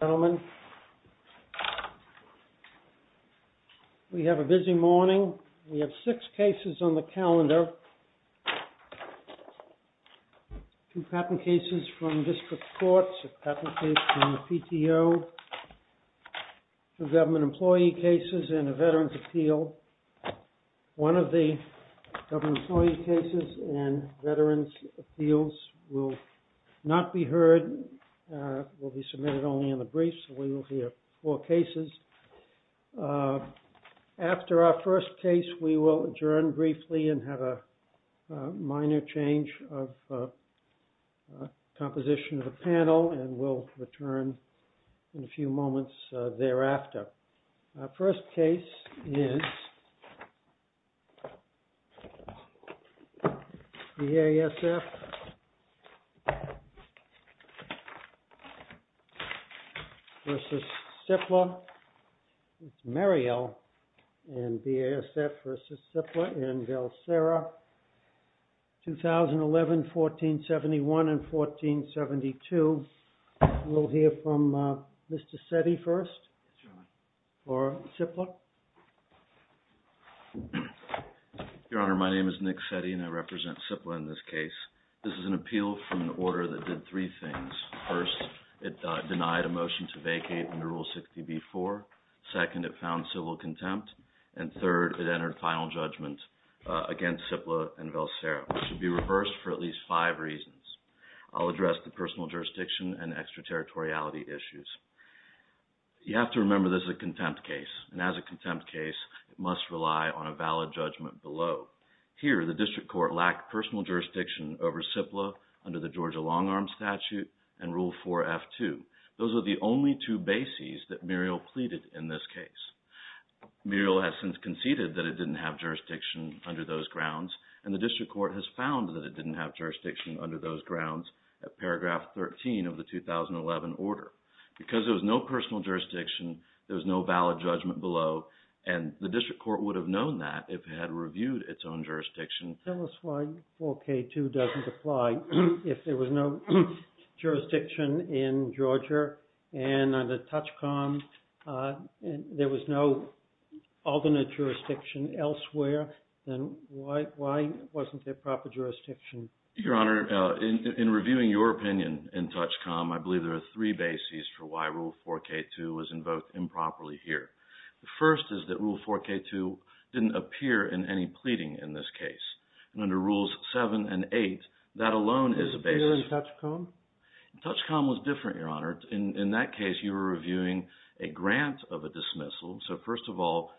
Gentlemen, we have a busy morning. We have six cases on the calendar, two patent cases from district courts, a patent case from the PTO, two government employee cases, and a veterans appeal. One of the government employee cases and veterans appeals will not be heard, will be submitted only in the brief, so we will hear four cases. After our first case, we will adjourn briefly and have a minor change of composition of the panel, and we'll return in a few moments thereafter. Our first case is BASF AGRO v. CIPLA LIMITED. It's Marielle and BASF v. CIPLA LIMITED in Valsera, 2011-1471 and 1472. We'll hear from Mr. Setti first or CIPLA. Your Honor, my name is Nick Setti, and I represent CIPLA in this case. This is an appeal from an order that did three things. First, it denied a motion to vacate under Rule 60b-4. Second, it found civil contempt. And third, it entered final judgment against CIPLA and Valsera, which should be reversed for at least five reasons. I'll address the personal jurisdiction and extraterritoriality issues. You have to remember this is a contempt case, and as a contempt case, it must rely on a valid judgment below. Here, the district court lacked personal jurisdiction over CIPLA under the Georgia long-arm statute and Rule 4f-2. Those are the only two bases that Marielle pleaded in this case. Marielle has since conceded that it didn't have jurisdiction under those grounds, and the district court has found that it didn't have jurisdiction under those grounds at paragraph 13 of the 2011 order. Because there was no personal jurisdiction, there was no valid judgment below, and the district court would have known that if it had reviewed its own jurisdiction. Tell us why 4k-2 doesn't apply. If there was no jurisdiction in Georgia and under TOUCHCOM, there was no alternate jurisdiction elsewhere, then why wasn't there proper jurisdiction? Your Honor, in reviewing your opinion in TOUCHCOM, I believe there are three bases for why Rule 4k-2 was invoked improperly here. The first is that Rule 4k-2 didn't appear in any pleading in this case, and under Rules 7 and 8, that alone is a basis. It didn't appear in TOUCHCOM? TOUCHCOM was different, Your Honor. In that case, you were reviewing a grant of a dismissal. So first of all,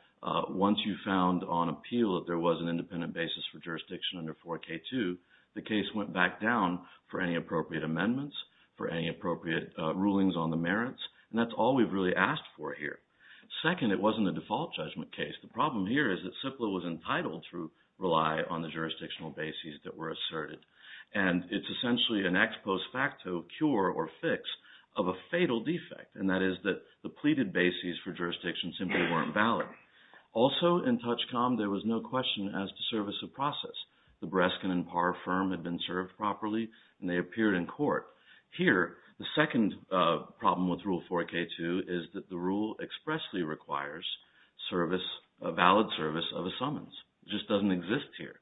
once you found on appeal that there was an independent basis for jurisdiction under 4k-2, the case went back down for any appropriate amendments, for any appropriate rulings on the merits, and that's all we've really asked for here. Second, it wasn't a default judgment case. The problem here is that CIPLA was entitled to rely on the jurisdictional bases that were asserted, and it's essentially an ex post facto cure or fix of a fatal defect, and that is that the pleaded bases for jurisdiction simply weren't valid. Also in TOUCHCOM, there was no question as to service of process. The Breskin and Parr firm had been served properly, and they appeared in court. Here, the second problem with Rule 4k-2 is that the rule expressly requires service, a valid service of a summons. It just doesn't exist here.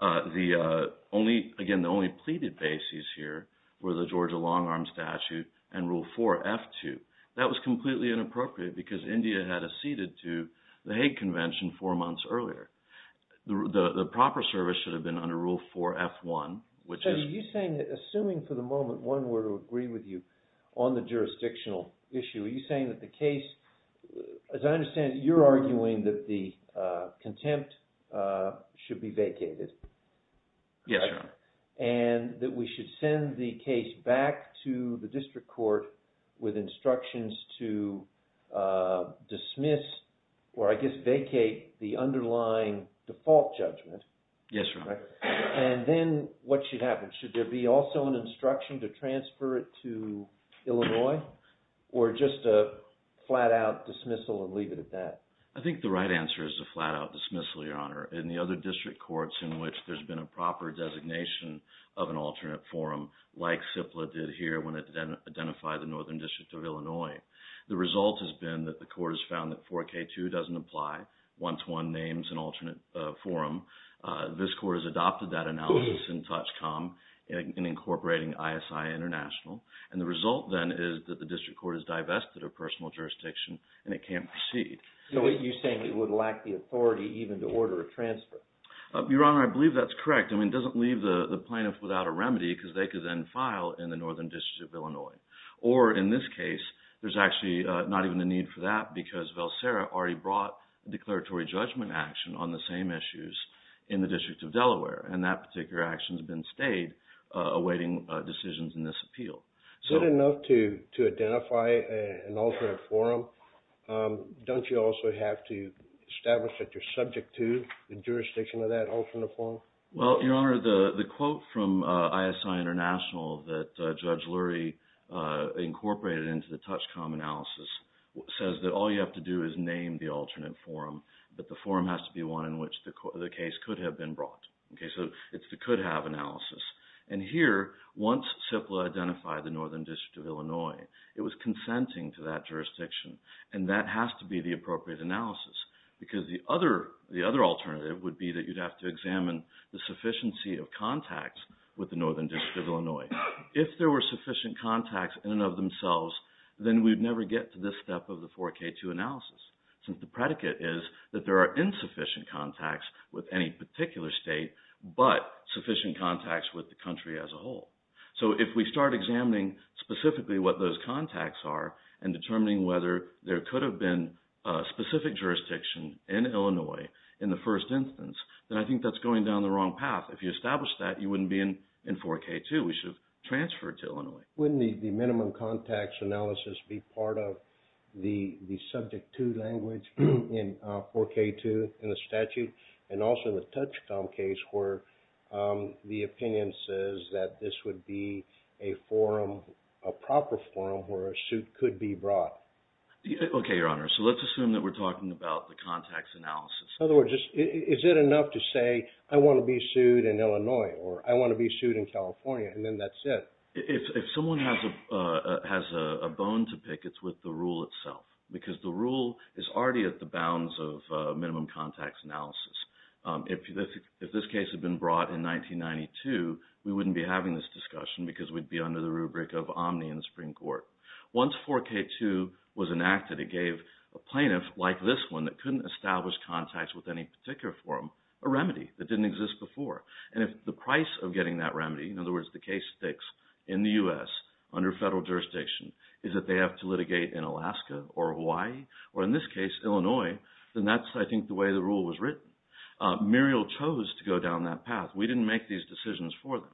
The only, again, the only pleaded bases here were the Georgia Long Arm Statute and Rule 4f-2. That was completely inappropriate because India had acceded to the Hague Convention four months earlier. The proper service should have been under Rule 4f-1, which is... So are you saying that, assuming for the moment one were to agree with you on the jurisdictional issue, are you saying that the case, as I understand it, you're arguing that the contempt should be vacated? Yes, Your Honor. And that we should send the case back to the district court with instructions to dismiss, or I guess vacate, the underlying default judgment? Yes, Your Honor. And then what should happen? Should there be also an instruction to transfer it to Illinois, or just a flat-out dismissal and leave it at that? I think the right answer is a flat-out dismissal, Your Honor. In the other district courts in which there's been a proper designation of an alternate forum, like CIPLA did here when it identified the K2 doesn't apply, one-to-one names an alternate forum. This court has adopted that analysis in TOUCHCOM and incorporating ISI International. And the result then is that the district court has divested a personal jurisdiction and it can't proceed. So you're saying it would lack the authority even to order a transfer? Your Honor, I believe that's correct. I mean, it doesn't leave the plaintiff without a remedy because they could then file in the Northern District of Illinois. Or in this case, there's actually not even the need for that because Velsera already brought a declaratory judgment action on the same issues in the District of Delaware. And that particular action has been stayed, awaiting decisions in this appeal. Good enough to identify an alternate forum. Don't you also have to establish that you're subject to the jurisdiction of that alternate forum? Well, Your Honor, the quote from ISI International that Judge Lurie incorporated into the TOUCHCOM analysis says that all you have to do is name the alternate forum, but the forum has to be one in which the case could have been brought. So it's the could-have analysis. And here, once CIPLA identified the Northern District of Illinois, it was consenting to that jurisdiction. And that has to be the appropriate analysis because the other alternative would be that you'd have to examine the sufficiency of contacts with the Northern District of Illinois. If there were sufficient contacts in and of themselves, then we'd never get to this step of the 4K2 analysis, since the predicate is that there are insufficient contacts with any particular state, but sufficient contacts with the country as a whole. So if we start examining specifically what those contacts are and determining whether there could have been a specific jurisdiction in Illinois in the first instance, then I think that's going down the wrong path. If you establish that, you wouldn't be in 4K2. We should have transferred to Illinois. Wouldn't the minimum contacts analysis be part of the Subject 2 language in 4K2 in the statute, and also the Touchcom case where the opinion says that this would be a forum, a proper forum, where a suit could be brought? Okay, Your Honor. So let's assume that we're talking about the contacts analysis. In other words, is it enough to say, I want to be sued in Illinois, or I want to be sued in California, and then that's it? If someone has a bone to pick, it's with the rule itself, because the rule is already at the bounds of minimum contacts analysis. If this case had been brought in 1992, we wouldn't be having this discussion because we'd be under the rubric of omni in the Supreme Court. Once 4K2 was enacted, it gave a plaintiff, like this one, that couldn't establish contacts with any particular forum, a remedy that didn't exist before. And if the price of getting that remedy, in other words, the case sticks in the U.S. under federal jurisdiction, is that they have to litigate in Alaska or Hawaii, or in this case, Illinois, then that's, I think, the way the rule was written. Muriel chose to go down that path. We didn't make these decisions for them.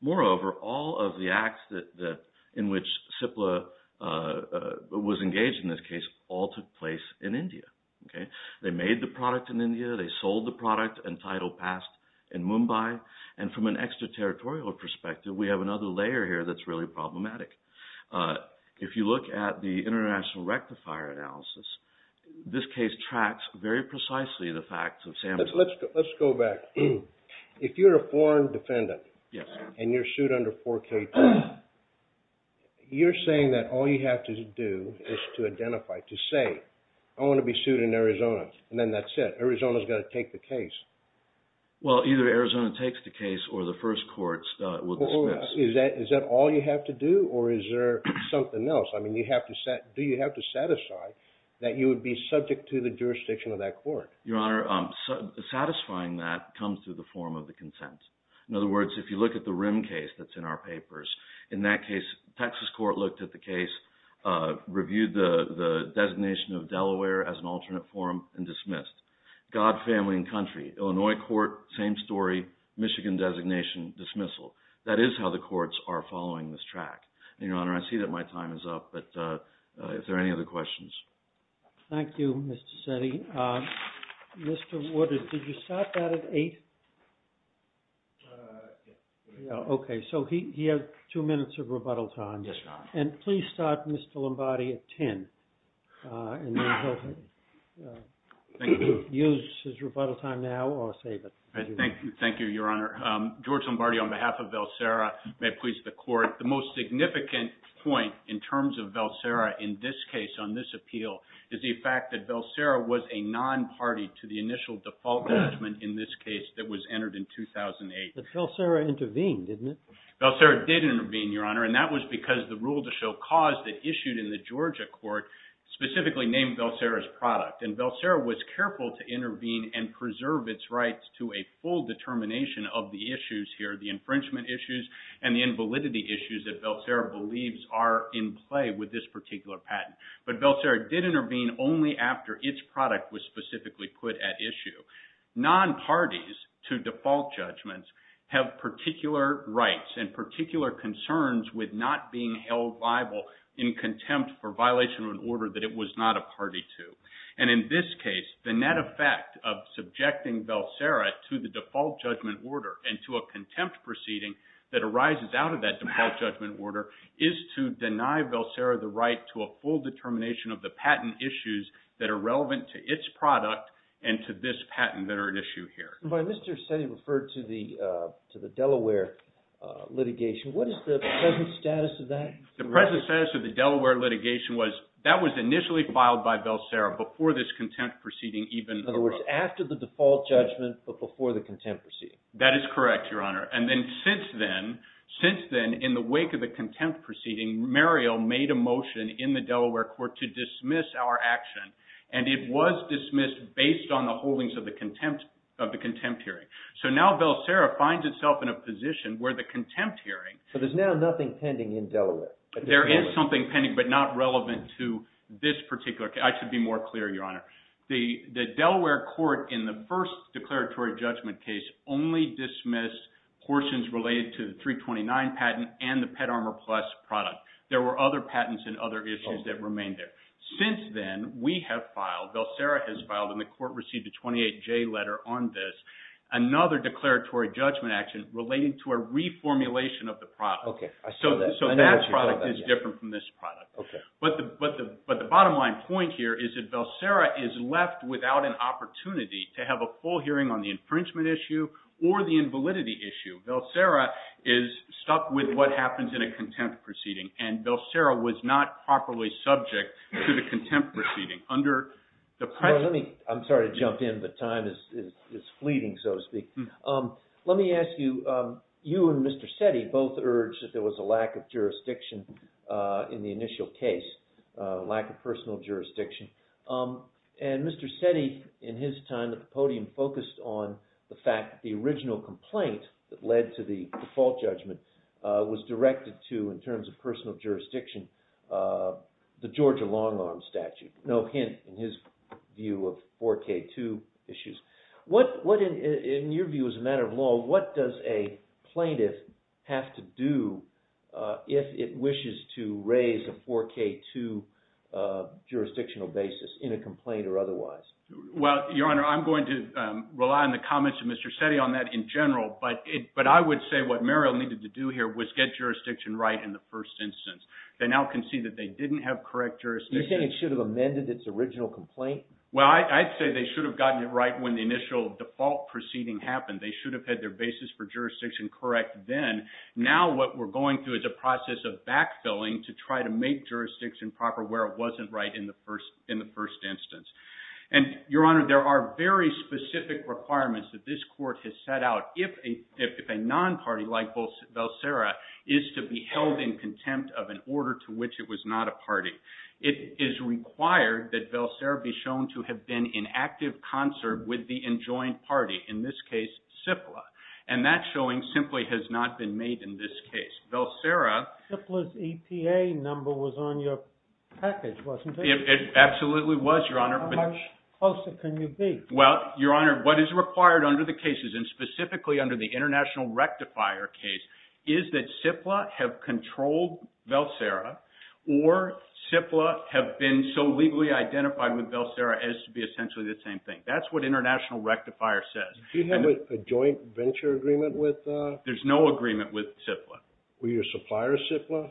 Moreover, all of the acts in which CIPLA was engaged in this case all took place in India. Okay? They made the product in India, they sold the product and title passed in Mumbai, and from an extraterritorial perspective, we have another layer here that's really problematic. If you look at the international rectifier analysis, this case tracks very precisely the facts of San Francisco. Let's go back. If you're a foreign defendant and you're sued under 4K2, you're saying that all you have to do is to identify, to say, I want to be sued in Arizona, and then that's it. Arizona's going to take the case. Well, either Arizona takes the case or the first courts will dismiss. Is that all you have to do, or is there something else? I mean, do you have to satisfy that you would be subject to the jurisdiction of that court? Your Honor, satisfying that comes through the form of the consent. In other words, if you look at the Rim case that's in our papers, in that case, Texas court looked at the case, reviewed the designation of Delaware as an alternate form, and dismissed. God, family, country, Illinois court, same story, Michigan designation, dismissal. That is how the courts are following this track. Your Honor, I see that my time is up, but if there are any other questions. Thank you, Mr. Setti. Mr. Woodard, did you start that at 8? Okay, so he has two minutes of rebuttal time. Yes, Your Honor. Please start, Mr. Lombardi, at 10, and then he'll use his rebuttal time now or save it. Thank you, Your Honor. George Lombardi, on behalf of Velsera, may it please the court, the most significant point in terms of Velsera in this case on this appeal is the fact that Velsera was a non-party to the initial default judgment in this case that was entered in 2008. But Velsera intervened, didn't it? Velsera did intervene, Your Honor, and that was because the rule to show cause that issued in the Georgia court specifically named Velsera's product, and Velsera was careful to intervene and preserve its rights to a full determination of the issues here, the infringement issues and the invalidity issues that Velsera believes are in play with this particular patent. But Velsera did intervene only after its product was specifically put at issue. Non-parties to default judgments have particular rights and particular concerns with not being held liable in contempt for violation of an order that it was not a party to. And in this case, the net effect of subjecting Velsera to the default judgment order and to a contempt proceeding that arises out of that default judgment order is to deny Velsera the right to a full determination of the patent issues that are relevant to its product and to this patent that are at issue here. But Mr. Seddy referred to the Delaware litigation. What is the present status of that? The present status of the Delaware litigation was that was initially filed by Velsera before this contempt proceeding even... In other words, after the default judgment, but before the contempt proceeding. That is correct, Your Honor. And then since then, in the wake of the contempt proceeding, Muriel made a motion in the Delaware court to dismiss our action, and it was dismissed based on the holdings of the contempt hearing. So now Velsera finds itself in a position where the contempt hearing... So there's now nothing pending in Delaware. There is something pending, but not relevant to this particular case. I should be more clear, Your Honor. The Delaware court in the first declaratory judgment case only dismissed portions related to the 329 patent and the Pet Armor Plus product. There were other patents and other issues that remained there. Since then, we have filed, Velsera has filed, and the court received a 28-J letter on this, another declaratory judgment action relating to a reformulation of the product. So that product is different from this product. But the bottom line point here is that Velsera is left without an opportunity to have a full hearing on the infringement issue or the invalidity issue. Velsera is stuck with what happens in a contempt proceeding, and Velsera was not properly subject to the contempt proceeding. I'm sorry to jump in, but time is fleeting, so to speak. Let me ask you, you and Mr. Sette both urged that there was a lack of jurisdiction in the initial case, lack of personal jurisdiction. And Mr. Sette, in his time at the podium, focused on the fact that the original complaint that led to the default judgment was directed to, in terms of personal jurisdiction, the Georgia long-arm statute. No hint, in his view, of 4K2 issues. In your view, as a matter of law, what does a plaintiff have to do if it wishes to raise a 4K2 jurisdictional basis in a complaint or otherwise? Well, Your Honor, I'm going to rely on the comments of Mr. Sette on that in general, but I would say what Merrill needed to do here was get jurisdiction right in the first instance. They now concede that they didn't have correct jurisdiction. You're saying it should have amended its original complaint? Well, I'd say they should have gotten it right when the initial default proceeding happened. They should have had their basis for jurisdiction correct then. Now what we're going through is a process of backfilling to try to make jurisdiction proper where it wasn't right in the first instance. And, Your Honor, there are very specific requirements that this Court has set out if a non-party like Velsera is to be held in contempt of an order to which it was not a party. It is required that Velsera be shown to have been in active concert with the enjoined party, in this case, CIPLA. And that showing simply has not been made in this case. Velsera... CIPLA's EPA number was on your page. Well, Your Honor, what is required under the cases, and specifically under the International Rectifier case, is that CIPLA have controlled Velsera or CIPLA have been so legally identified with Velsera as to be essentially the same thing. That's what International Rectifier says. Do you have a joint venture agreement with... There's no agreement with CIPLA. Were your supplier CIPLA?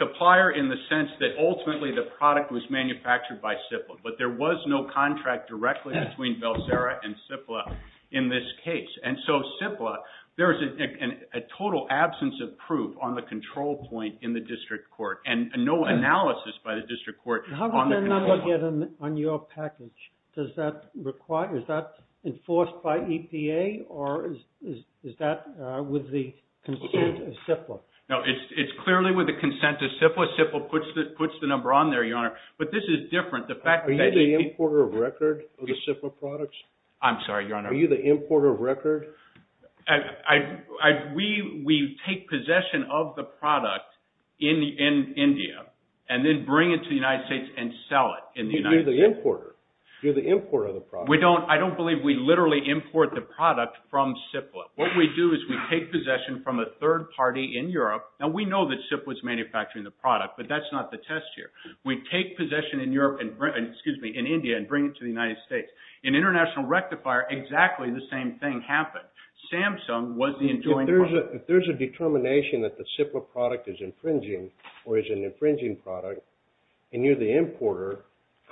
Supplier in the sense that ultimately the product was manufactured by directly between Velsera and CIPLA in this case. And so CIPLA, there is a total absence of proof on the control point in the District Court. And no analysis by the District Court... How did that number get on your package? Is that enforced by EPA or is that with the consent of CIPLA? No, it's clearly with the consent of CIPLA. CIPLA puts the number on there, Your Honor. But this is different. The fact that... Are you the importer of record of the CIPLA products? I'm sorry, Your Honor. Are you the importer of record? We take possession of the product in India and then bring it to the United States and sell it in the United States. You're the importer. You're the importer of the product. I don't believe we literally import the product from CIPLA. What we do is we take possession from a third party in Europe. Now, we know that CIPLA is manufacturing the product, but that's not the test here. We take possession in Europe and, excuse me, in India and bring it to the United States. In international rectifier, exactly the same thing happened. Samsung was the enjoined partner. If there's a determination that the CIPLA product is infringing or is an infringing product and you're the importer,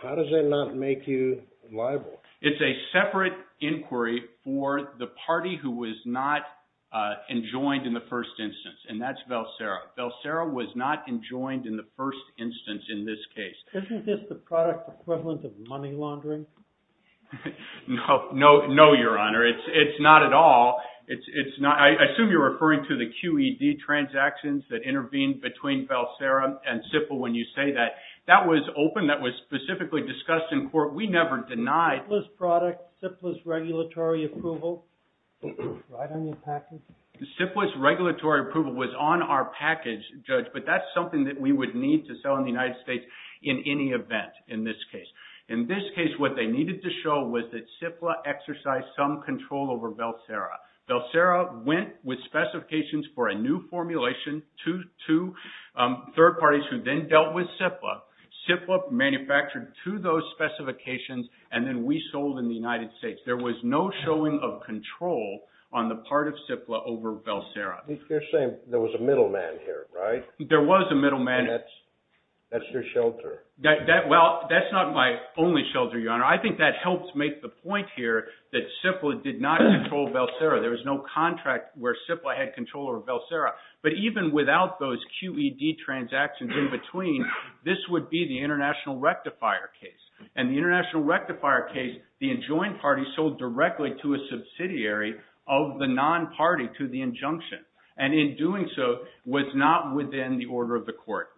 how does that not make you liable? It's a separate inquiry for the party who was not enjoined in the first instance, and that's Valsera. Valsera was not enjoined in the first instance in this case. Isn't this the product equivalent of money laundering? No, Your Honor. It's not at all. I assume you're referring to the QED transactions that intervened between Valsera and CIPLA when you say that. That was open. That was specifically discussed in court. We never denied- CIPLA's product, regulatory approval, right on your package? CIPLA's regulatory approval was on our package, Judge, but that's something that we would need to sell in the United States in any event in this case. In this case, what they needed to show was that CIPLA exercised some control over Valsera. Valsera went with specifications for a new formulation to third parties who then dealt with CIPLA. CIPLA manufactured to those specifications, and then we sold in the United States. There was no showing of control on the part of CIPLA over Valsera. You're saying there was a middleman here, right? There was a middleman. And that's your shelter. Well, that's not my only shelter, Your Honor. I think that helps make the point here that CIPLA did not control Valsera. There was no contract where CIPLA had control over Valsera. But even without those QED transactions in between, this would be the international rectifier case. And the international rectifier case, the enjoined party sold directly to a subsidiary of the non-party to the injunction. And in doing so, was not within the order of the court.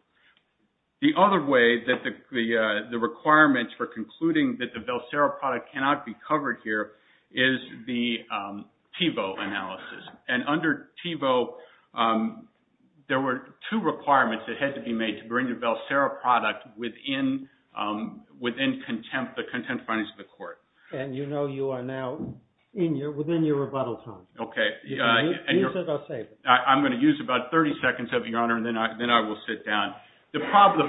The other way that the requirements for concluding that the Valsera product cannot be covered here is the Thiebaud analysis. And under Thiebaud, there were two requirements that had to be made to bring the Valsera product within the contempt findings of the court. And you know you are now within your rebuttal time. Okay. I'm going to use about 30 seconds, Your Honor, and then I will sit down. The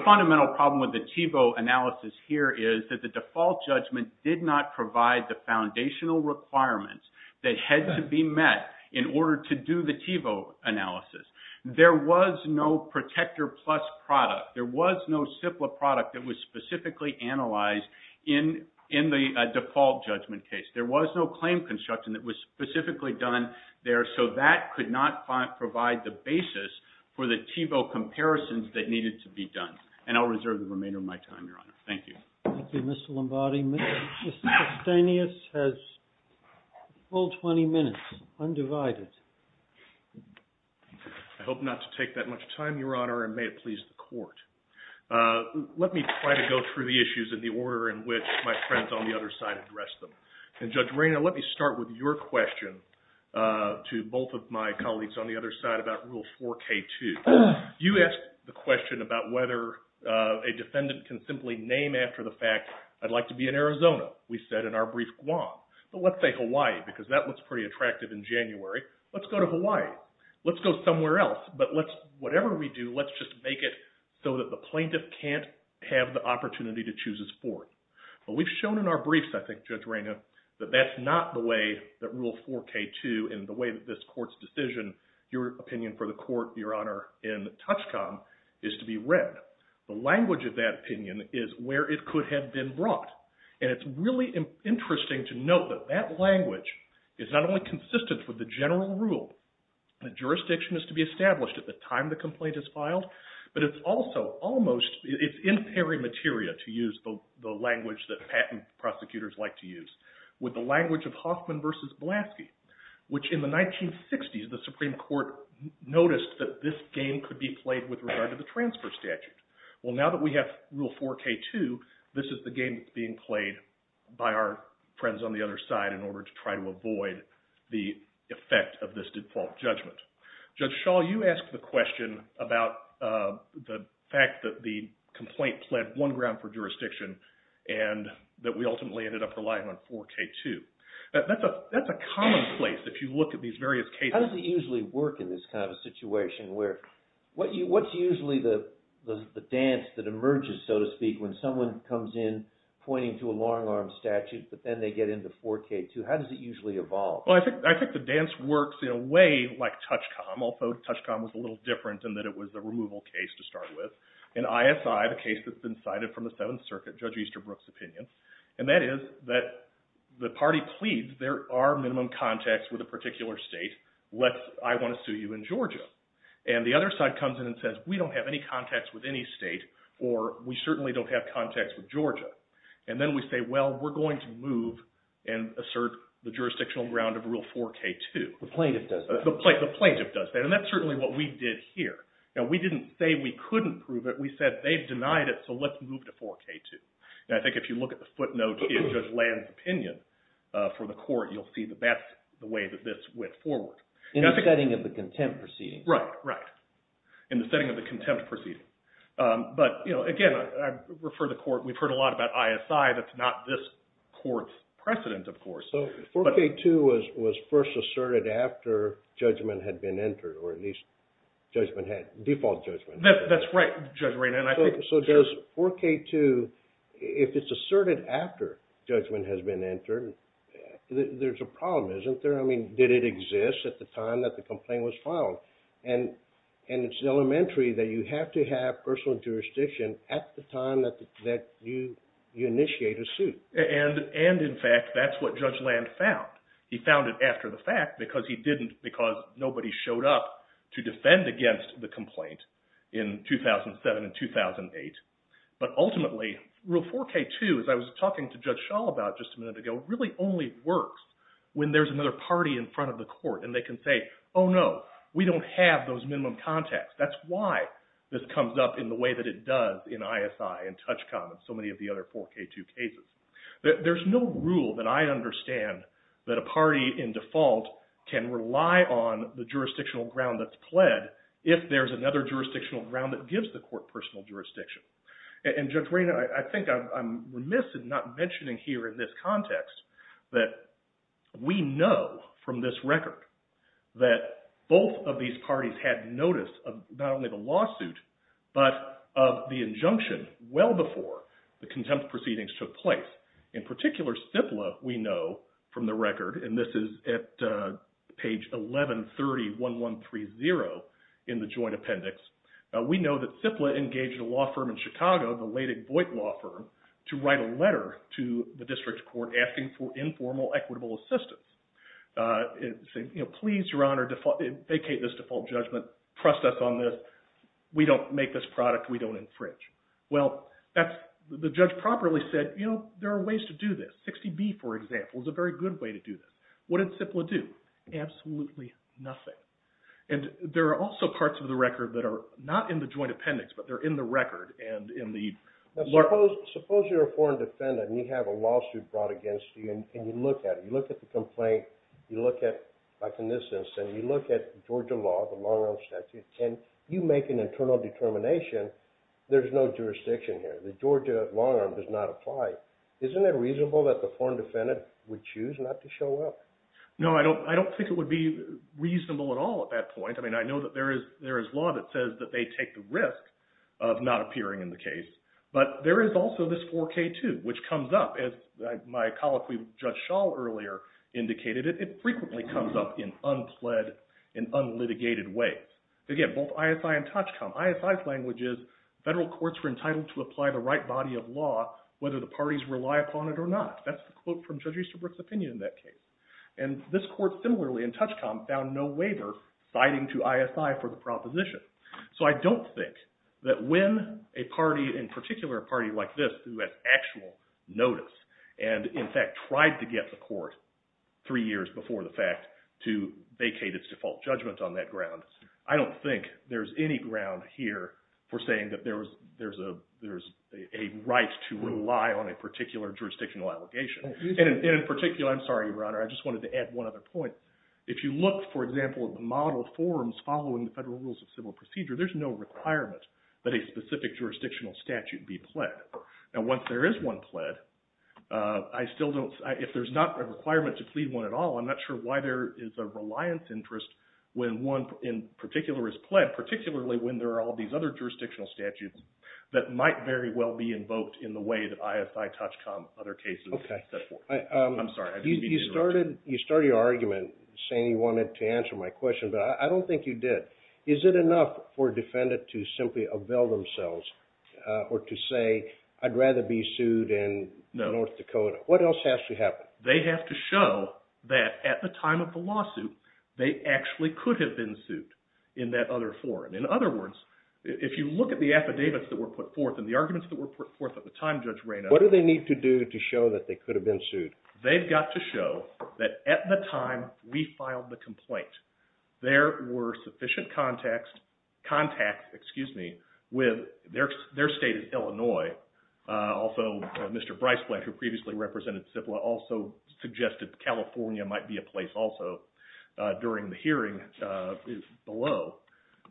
fundamental problem with the Thiebaud analysis here is that the default judgment did not provide the foundational requirements that had to be met in order to do the Thiebaud analysis. There was no Protector Plus product. There was no CIPLA product that was specifically analyzed in the default judgment case. There was no claim construction that was specifically done there. So that could not provide the basis for the Thiebaud comparisons that needed to be done. And I'll reserve the remainder of my time, Your Honor. Thank you. Thank you, Mr. Lombardi. Mr. Castanis has a full 20 minutes, undivided. I hope not to take that much time, Your Honor, and may it please the court. Let me try to go through the issues in the order in which my friends on the other side address them. And Judge Rayner, let me start with your question to both of my colleagues on the other side about Rule 4K2. You asked the question about whether a defendant can simply name after the fact, I'd like to be in Arizona. We said in our brief, Guam. But let's say Hawaii, because that was pretty attractive in January. Let's go to Hawaii. Let's go somewhere else. But let's, whatever we do, let's just make it so that the plaintiff can't have the opportunity to choose his fort. But we've shown in our briefs, I think, Judge Rayner, that that's not the way that Rule 4K2 and the way that this court's decision, your opinion for the court, Your Honor, in Touchcom is to be read. The language of that opinion is where it could have been brought. And it's really interesting to note that that language is not only consistent with the general rule that jurisdiction is to be established at the time the complaint is filed, but it's also almost, it's in pari materia to use the language that patent prosecutors like to use, with the regard to the transfer statute. Well, now that we have Rule 4K2, this is the game that's being played by our friends on the other side in order to try to avoid the effect of this default judgment. Judge Schall, you asked the question about the fact that the complaint pled one ground for jurisdiction and that we ultimately ended up relying on 4K2. That's a commonplace, if you look at these various cases. How does it usually work in this kind of a situation where, what's usually the dance that emerges, so to speak, when someone comes in pointing to a long-arm statute, but then they get into 4K2? How does it usually evolve? Well, I think the dance works in a way like Touchcom, although Touchcom was a little different in that it was a removal case to start with. In ISI, the case that's been cited from the Seventh Circuit, Judge Easterbrook's opinion, and that is that the party pleads, there are minimum contacts with a particular state, let's, I want to sue you in Georgia. And the other side comes in and says, we don't have any contacts with any state, or we certainly don't have contacts with Georgia. And then we say, well, we're going to move and assert the jurisdictional ground of Rule 4K2. The plaintiff does that. The plaintiff does that, and that's certainly what we did here. Now, we didn't say we couldn't prove it. We said they've denied it, so let's move to 4K2. And I think if you look at the footnote in Judge Land's opinion for the court, you'll see that that's the way that this went forward. In the setting of the contempt proceeding. Right, right. In the setting of the contempt proceeding. But, you know, again, I refer the court, we've heard a lot about ISI, that's not this court's precedent, of course. So 4K2 was first asserted after judgment had been entered, or at least default judgment. That's right, Judge Rainer. So does 4K2, if it's asserted after judgment has been entered, there's a problem, isn't there? I mean, did it exist at the time that the complaint was filed? And it's elementary that you have to have personal jurisdiction at the time that you initiate a suit. And, in fact, that's what Judge Land found. He found it after the fact because he didn't, because nobody showed up to defend against the complaint in 2007 and 2008. But, ultimately, Rule 4K2, as I was talking to Judge Shaw about just a minute ago, really only works when there's another party in front of the court and they can say, oh no, we don't have those minimum contacts. That's why this comes up in the way that it does in ISI and Touchcom and so many of the other 4K2 cases. There's no rule that I understand that a party in default can rely on the jurisdictional ground that's pled if there's another jurisdictional ground that gives the court personal jurisdiction. And, Judge Rainer, I think I'm remiss in not mentioning here in this context that we know from this record that both of these parties had notice of not only the lawsuit but of the injunction well before the contempt proceedings took place. In particular, CIPLA, we know from the record, and this is at page 11301130 in the Joint Appendix, we know that CIPLA engaged a law firm in Chicago, the Leydig-Voigt Law Firm, to write a letter to the district court asking for informal equitable assistance saying, you know, please, Your Honor, vacate this default judgment, trust us on this, we don't make this product, we don't infringe. Well, the judge properly said, you know, there are ways to do this. 60B, for example, is a very good way to do this. What did CIPLA do? Absolutely nothing. And there are also parts of the record that are not in the Joint Appendix but they're in the record and in the... Suppose you're a foreign defendant and you have a lawsuit brought against you and you look at it, you look at the complaint, you look at, like in this instance, you look at Georgia Law, the long-arm statute, and you make an internal determination, there's no jurisdiction here, the Georgia long-arm does not apply. Isn't it reasonable that the foreign defendant would choose not to show up? No, I don't think it would be reasonable at all at that point. I mean, I know that there is law that says that they take the risk of not appearing in the case, but there is also this 4K2, which comes up, as my colleague Judge Schall earlier indicated, it frequently comes up in unpled, in unlitigated ways. Again, both ISI and TACHCOM, ISI's language is federal courts are entitled to apply the right body of law whether the parties rely upon it or not. That's the quote from Judge Easterbrook's opinion in that case. And this court, similarly in TACHCOM, found no waiver citing to ISI for the proposition. So I don't think that when a party, in particular a party like this, who has actual notice, and in fact tried to get the court three years before the fact to vacate its default judgment on that ground, I don't think there's any ground here for saying that there's a right to rely on a particular jurisdictional allegation. And in particular, I'm sorry, Your Honor, I just wanted to add one other point. If you look, for example, at the model forms following the federal rules of civil procedure, there's no requirement that a specific jurisdictional statute be pled. Now once there is one pled, I still don't, if there's not a requirement to plead one at all, I'm not sure why there is a reliance interest when one in particular is pled, particularly when there are all these other jurisdictional statutes that might very well be invoked in the way that ISI, TACHCOM, other cases set forth. I'm sorry, I didn't mean to interrupt you. You started your argument saying you wanted to answer my question, but I don't think you did. Is it enough for a defendant to simply avail themselves or to say, I'd rather be sued in North Dakota? What else has to happen? They have to show that at the time of the lawsuit, they actually could have been sued in that other forum. In other words, if you look at the affidavits that were put forth and the arguments that were put forth at the time, Judge Reynolds. What do they need to do to show that they could have been sued? They've got to show that at the time we filed the complaint, there were sufficient contacts with their state of Illinois. Also, Mr. Briceblatt, who previously represented CIPLA, also suggested California might be a place also during the hearing is below.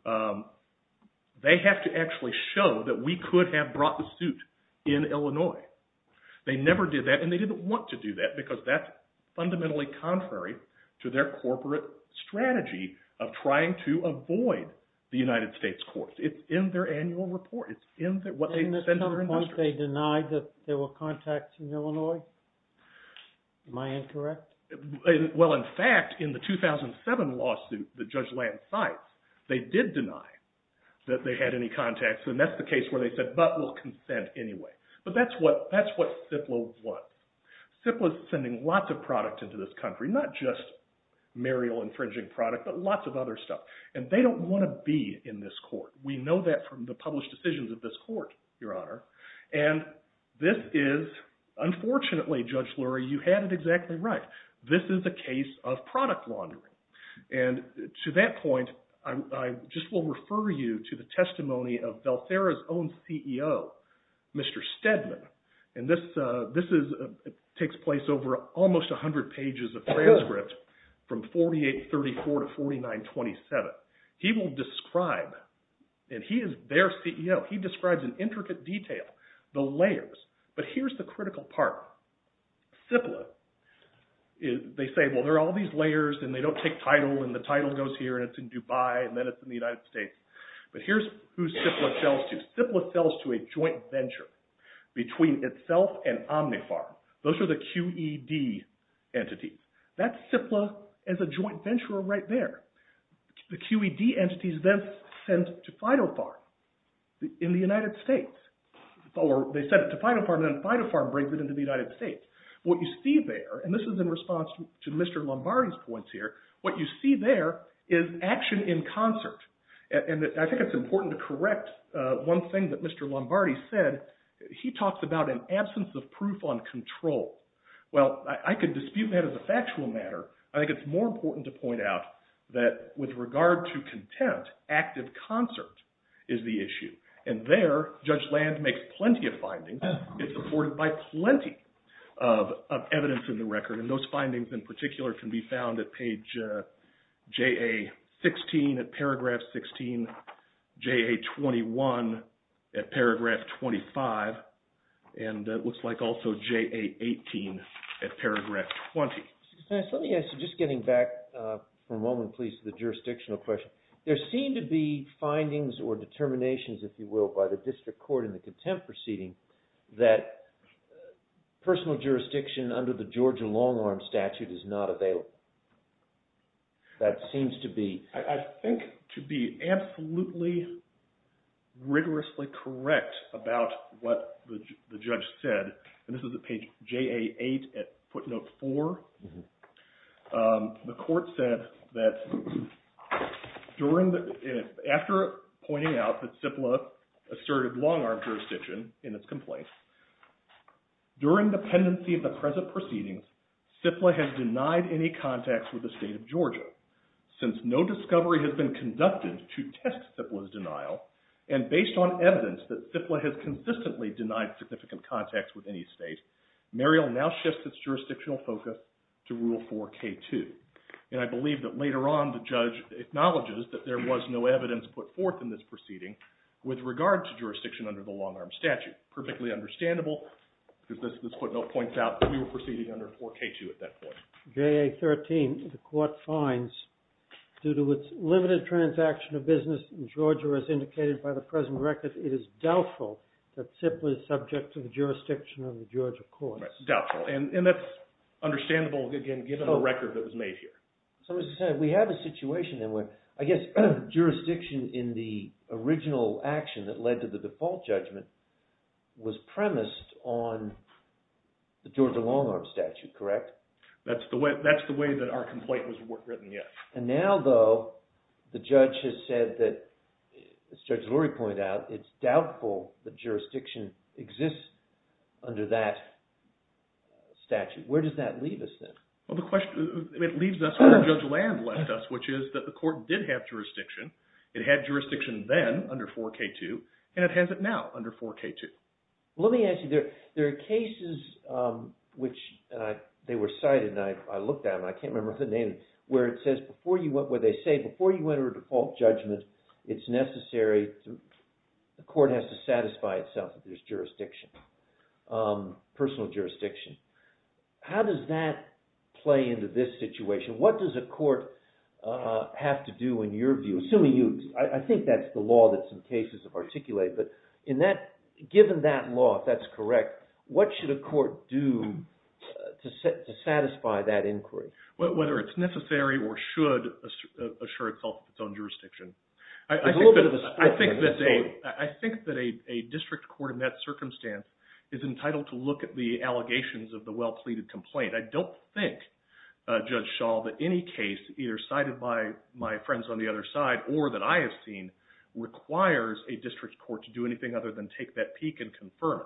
They have to actually show that we could have brought the suit in Illinois. They never did and they didn't want to do that because that's fundamentally contrary to their corporate strategy of trying to avoid the United States courts. It's in their annual report. It's in what they send to their industry. Didn't they deny that there were contacts in Illinois? Am I incorrect? Well, in fact, in the 2007 lawsuit that Judge Land cites, they did deny that they had any contacts and that's the case where they said, but we'll consent anyway. But that's what CIPLA was. CIPLA is sending lots of product into this country, not just marital infringing product, but lots of other stuff. And they don't want to be in this court. We know that from the published decisions of this court, Your Honor. And this is, unfortunately, Judge Lurie, you had it exactly right. This is a case of product laundering. And to that point, I just will refer you to the takes place over almost 100 pages of transcript from 4834 to 4927. He will describe, and he is their CEO, he describes in intricate detail the layers. But here's the critical part. CIPLA, they say, well, there are all these layers and they don't take title and the title goes here and it's in Dubai and then it's in the United States. But here's who CIPLA sells to. CIPLA sells to a joint venture between itself and OmniFarm. Those are the QED entities. That's CIPLA as a joint venture right there. The QED entities then sent to FidoFarm in the United States. Or they sent it to FidoFarm and then FidoFarm brings it into the United States. What you see there, and this is in response to Mr. Lombardi's points here, what you see there is action in concert. And I think it's important to correct one thing that Mr. Lombardi said. He talks about an absence of proof on control. Well, I could dispute that as a factual matter. I think it's more important to point out that with regard to contempt, active concert is the issue. And there, Judge Land makes plenty of findings. It's supported by plenty of evidence in the record. And those findings in particular can be found at page JA-16, at paragraph 16, JA-21, at paragraph 25, and it looks like also JA-18 at paragraph 20. Mr. Kostanis, let me ask you, just getting back for a moment, please, to the jurisdictional question. There seem to be findings or determinations, if you will, by the district court in the contempt proceeding that personal jurisdiction under the Georgia long-arm statute is not available. That seems to be... I think to be absolutely rigorously correct about what the judge said, and this is at page JA-8 at footnote 4, the court said that after pointing out that CIPLA asserted long-arm jurisdiction in its complaints, during the pendency of the present proceedings, CIPLA has denied any contacts with the state of Georgia. Since no discovery has been conducted to test CIPLA's denial, and based on evidence that CIPLA has consistently denied significant contacts with any state, Muriel now shifts its jurisdictional focus to Rule 4k-2, and I believe that later on the judge acknowledges that there was no evidence put forth in this proceeding with regard to jurisdiction under the long-arm statute. Perfectly understandable, because this footnote points out that we were proceeding under 4k-2 at that point. JA-13, the court finds, due to its limited transaction of business in Georgia as indicated by the present record, it is doubtful that CIPLA is subject to the jurisdiction of the Georgia courts. Doubtful, and that's understandable, again, given the record that was made here. So we have a situation then where, I guess, jurisdiction in the original action that led to the default judgment was premised on the Georgia long-arm statute, correct? That's the way that our complaint was written, yes. And now, though, the judge has said that, as Judge Lurie pointed out, it's doubtful that jurisdiction exists under that statute. Where does that leave us, then? Well, the question, it leaves us where Judge Land left us, which is that the court did have jurisdiction. It had jurisdiction then under 4k-2, and it has it now under 4k-2. Let me ask you, there are cases which, they were cited, and I looked at them, I can't remember the name, where it says, where they say, before you enter a default judgment, it's necessary, the court has to satisfy itself if there's jurisdiction, personal jurisdiction. How does that play into this situation? What does a court have to do, in your view, assuming you, I think that's the law that some cases have articulated, but in that, given that law, if that's correct, what should a court do to satisfy that inquiry? Whether it's necessary or should assure itself of its own jurisdiction. I think that a district court, in that circumstance, is entitled to look at the allegations of the well-pleaded complaint. I don't think, Judge Shaw, that any case, either cited by my friends on the other side, or that I have seen, requires a district court to do anything other than take that peek and confirm it.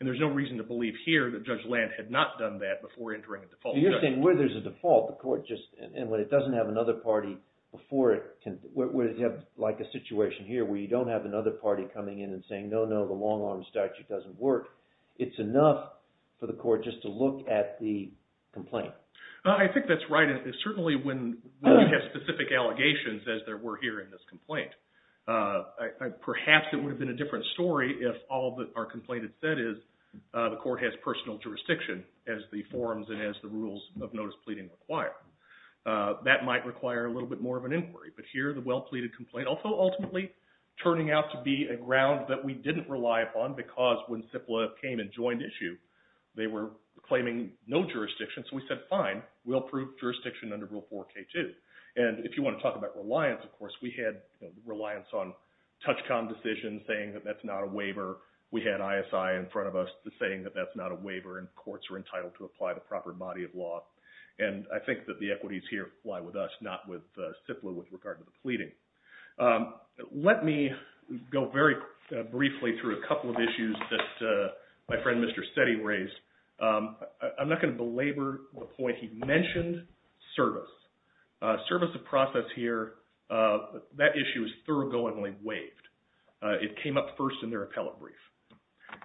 And there's no reason to believe here that Judge Land had not done that before entering a default judgment. So you're saying where there's a default, the court just, and when it doesn't have another party before it can, where you have like a situation here where you don't have another party coming in and saying, no, no, the long-arm statute doesn't work, it's enough for the court just to look at the complaint. I think that's right, and certainly when we have specific allegations, as there were here in this complaint, perhaps it would have been a different story if all that our complaint had said is, the court has personal jurisdiction as the forms and as the rules of notice pleading require. That might require a little bit more of an inquiry, but here the well-pleaded complaint, although ultimately turning out to be a ground that we didn't rely upon because when CIPLA came and joined issue, they were claiming no jurisdiction, so we said, fine, we'll approve jurisdiction under Rule 4K2. And if you want to talk about reliance, of course, we had reliance on touchcom decision saying that that's not a waiver. We had ISI in front of us saying that that's not a waiver and courts are entitled to apply the proper body of law. And I think that the equities here lie with us, not with CIPLA with regard to the pleading. Let me go very briefly through a couple of issues that my friend Mr. Setti raised. I'm not going to belabor the point he mentioned, service. Service of process here, that issue is thoroughly waived. It came up first in their appellate brief.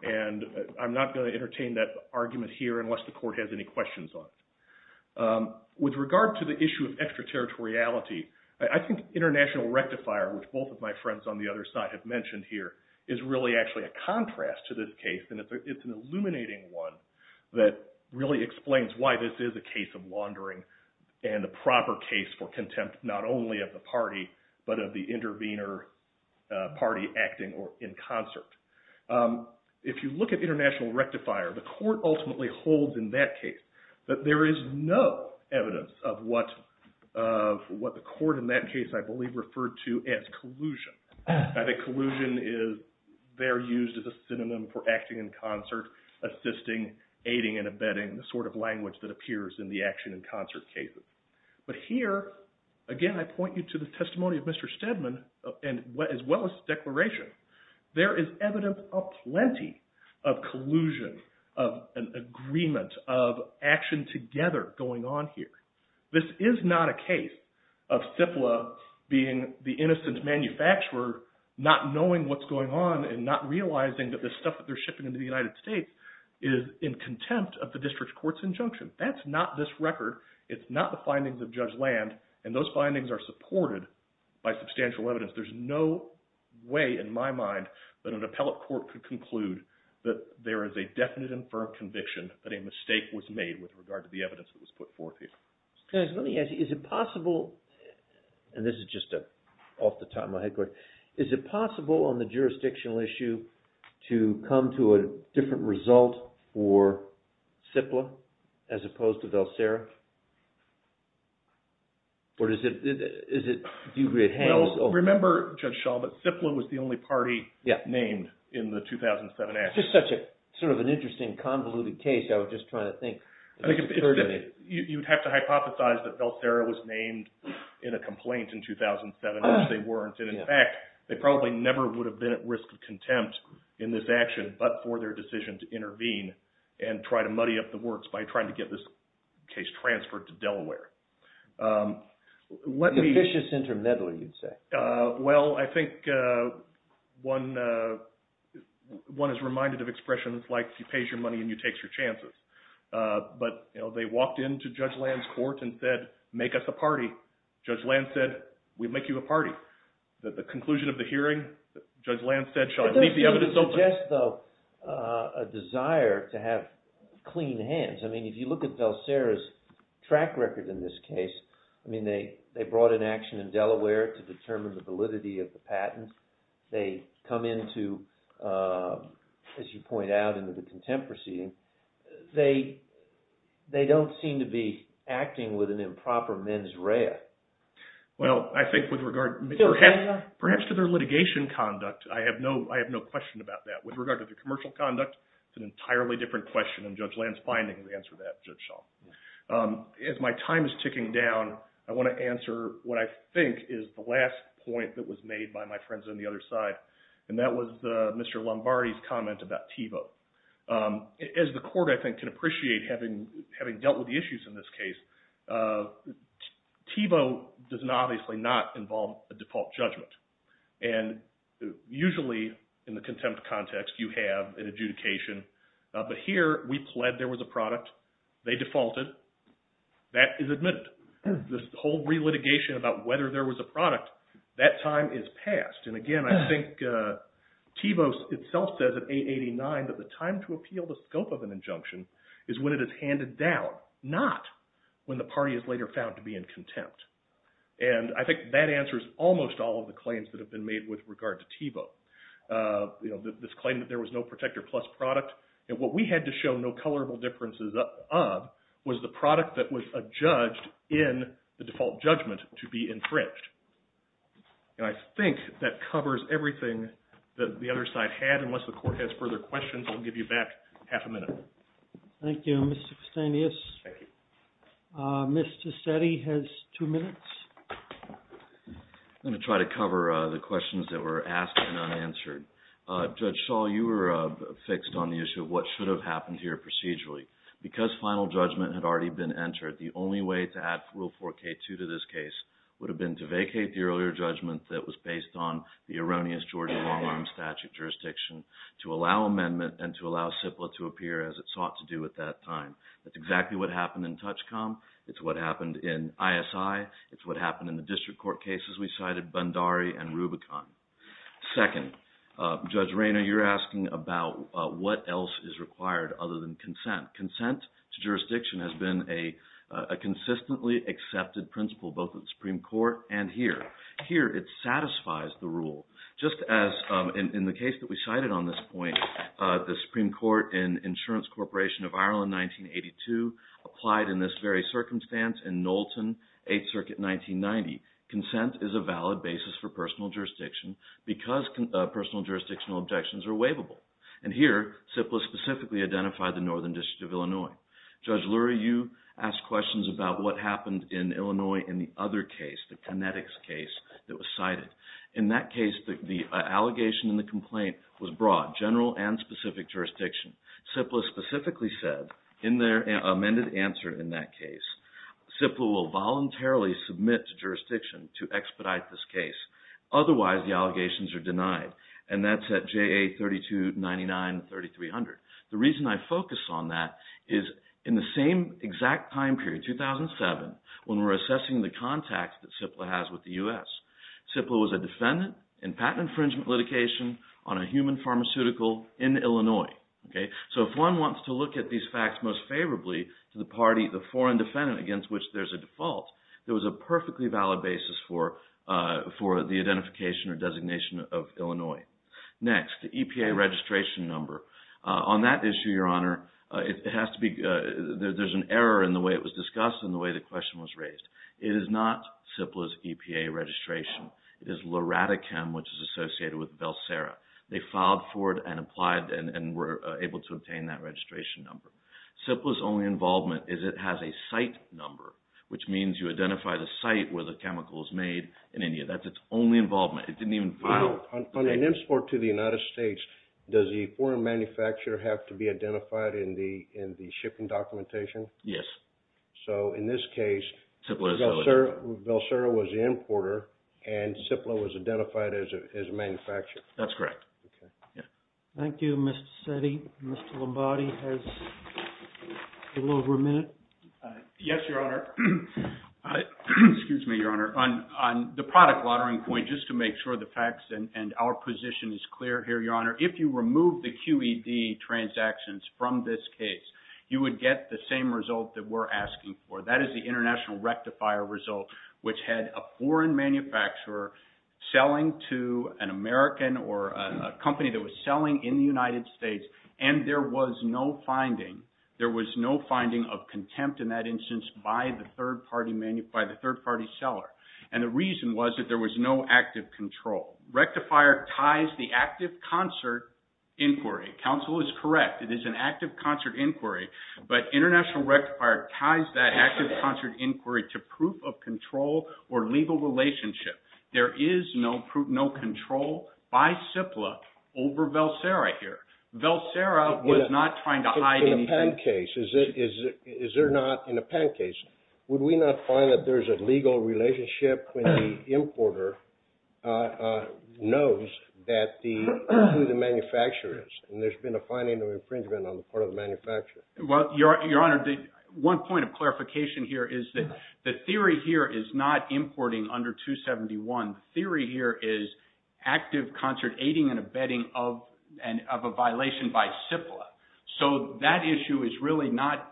And I'm not going to entertain that argument here unless the court has any questions on it. With regard to the issue of extraterritoriality, I think international rectifier, which both of my friends on the other side have mentioned here, is really actually a contrast to this case and it's an illuminating one that really explains why this is a case of laundering and the proper case for contempt not only of the party but of the intervener party acting in concert. If you look at international rectifier, the court ultimately holds in that case that there is no evidence of what the court in that case I believe referred to as collusion. I think collusion is there used as a synonym for acting in concert, assisting, aiding and abetting, the sort of language that appears in the action in concert cases. But here, again, I point you to the testimony of Mr. Steadman as well as the declaration. There is evidence of plenty of collusion, of an agreement, of action together going on here. This is not a case of CIPLA being the innocent manufacturer not knowing what's going on and not realizing that the stuff that they're shipping into the United States is in contempt of the district court's injunction. That's not this record. It's not the findings of Judge Land and those findings are supported by substantial evidence. There's no way in my mind that an appellate court could conclude that there is a definite and firm conviction that a mistake was made with regard to the evidence that was put forth here. Let me ask you, is it possible, and this is just off the top of my head, is it possible on the jurisdictional issue to come to a different result for CIPLA as opposed to Velsera? Well, remember, Judge Shaw, that CIPLA was the only party named in the 2007 act. It's just such a sort of an interesting convoluted case. I was just trying to think. I think you'd have to hypothesize that Velsera was named in a complaint in 2007, which they weren't. And in fact, they probably never would have been at risk of contempt in this action, but for their decision to intervene and try to muddy up the works by trying to get this case transferred to Delaware. What an ambitious intermediary, you'd say. Well, I think one is reminded of expressions like, you pay your money and you take your chances. But they walked into Judge Land's court and said, make us a party. Judge Land said, we'll make you a party. The conclusion of the hearing, Judge Land said, Shaw, leave the evidence open. It does suggest, though, a desire to have clean hands. I mean, if you look at Velsera's track record in this case, I mean, they brought in action in Delaware to determine the validity of the patent. They come into, as you point out, into the contemporary scene. They don't seem to be acting with an improper mens rea. Well, I think with regard, perhaps to their litigation conduct, I have no question about that. With regard to their commercial conduct, it's an entirely different question, and Judge Land's finding will answer that, Judge Shaw. As my time is ticking down, I want to answer what I think is the last point that was made by my friends on the other side, and that was Mr. Lombardi's comment about TiVo. As the court, I think, can appreciate, having dealt with the issues in this case, TiVo does obviously not involve a default judgment. And usually, in the contempt context, you have an adjudication. But here, we pled there was a product. They defaulted. That is admitted. This whole relitigation about whether there was a product, that time is past. And again, I think TiVo itself says at 889 that the time to appeal the scope of an injunction is when it is handed down, not when the party is later found to be in contempt. And I think that answers almost all of the claims that have been made with regard to TiVo. This claim that there was no protector plus product, and what we had to show no colorable differences of, was the product that was adjudged in the default judgment to be infringed. And I think that covers everything that the other side had. Unless the court has further questions, I'll give you back half a minute. Thank you, Mr. Castanis. Thank you. Mr. Setti has two minutes. I'm going to try to cover the questions that were asked and unanswered. Judge Shaw, you were fixed on the issue of what should have happened here procedurally. Because final judgment had already been entered, the only way to add Rule 4K2 to this case would have been to vacate the earlier judgment that was based on the erroneous Georgia long-arm statute jurisdiction to allow amendment and to allow CIPLA to appear as it sought to do at that time. That's exactly what happened in TOUCHCOM. It's what happened in ISI. It's what happened in the district court cases we cited, Bundari and Rubicon. Second, Judge Rayner, you're asking about what else is required other than consent. Consent to jurisdiction has been a consistently accepted principle, both in the Supreme Court and here. Here, it satisfies the rule. Just as in the case that we cited on this point, the Supreme Court and Insurance Corporation of Ireland, 1982, applied in this very circumstance in Knowlton, 8th Circuit, 1990. Consent is a valid basis for personal jurisdiction because personal jurisdictional objections are waivable. And here, CIPLA specifically identified the Northern District of Illinois. Judge Lurie, you asked questions about what happened in Illinois in the other case, the Kinetics case that was cited. In that case, the allegation in the complaint was broad, general and specific jurisdiction. CIPLA specifically said in their amended answer in that case, CIPLA will voluntarily submit to jurisdiction to expedite this case. Otherwise, the allegations are denied. And that's at JA 3299 and 3300. The reason I focus on that is in the same exact time period, 2007, when we're assessing the contacts that CIPLA has with the U.S., CIPLA was a defendant in patent infringement litigation on a human pharmaceutical in Illinois, okay? So, if one wants to look at these facts most favorably to the party, the foreign defendant against which there's a default, there was a perfectly valid basis for the identification or designation of Illinois. Next, the EPA registration number. On that issue, Your Honor, there's an error in the way it was discussed and the way the question was raised. It is not CIPLA's EPA registration. It is LORATICEM, which is associated with Velsera. They filed for it and applied and were able to obtain that registration number. CIPLA's only involvement is it has a site number, which means you identify the site where the chemical was made in India. That's its only involvement. It didn't even file. On an import to the United States, does the foreign manufacturer have to be identified in the shipping documentation? Yes. So, in this case, Velsera was the importer and CIPLA was identified as a manufacturer. That's correct. Thank you, Mr. Seddy. Mr. Lombardi has a little over a minute. Yes, Your Honor. Excuse me, Your Honor. On the product laundering point, just to make sure the facts and our position is clear here, Your Honor, if you remove the QED transactions from this case, you would get the same result that we're asking for. That is the international rectifier result, which had a foreign manufacturer selling to an American or a company that was selling in the United States, and there was no finding. There was no finding of contempt in that instance by the third-party seller. And the reason was that there was no active control. Rectifier ties the active concert inquiry. Counsel is correct. It is an active concert inquiry, but international rectifier ties that active concert inquiry to proof of control or legal relationship. There is no proof, no control by CIPLA over Valsera here. Valsera was not trying to hide anything. In a PAN case, is there not, in a PAN case, would we not find that there's a legal relationship when the importer knows who the manufacturer is, and there's been a finding of infringement on the part of the manufacturer? Well, Your Honor, one point of clarification here is that the theory here is not importing under 271. The theory here is active concert aiding and abetting of a violation by CIPLA. So that issue is really not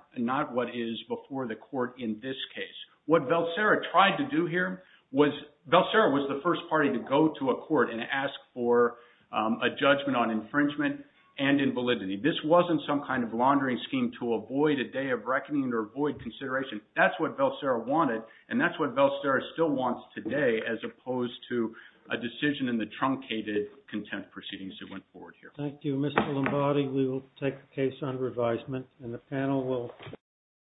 what is before the court in this case. What Valsera tried to do here was, Valsera was the first party to go to a court and ask for a judgment on infringement and invalidity. This wasn't some kind of laundering scheme to avoid a day of reckoning or void consideration. That's what Valsera wanted. And that's what Valsera still wants today as opposed to a decision in the truncated content proceedings that went forward here. Thank you, Mr. Lombardi. We will take a case on revisement, and the panel will.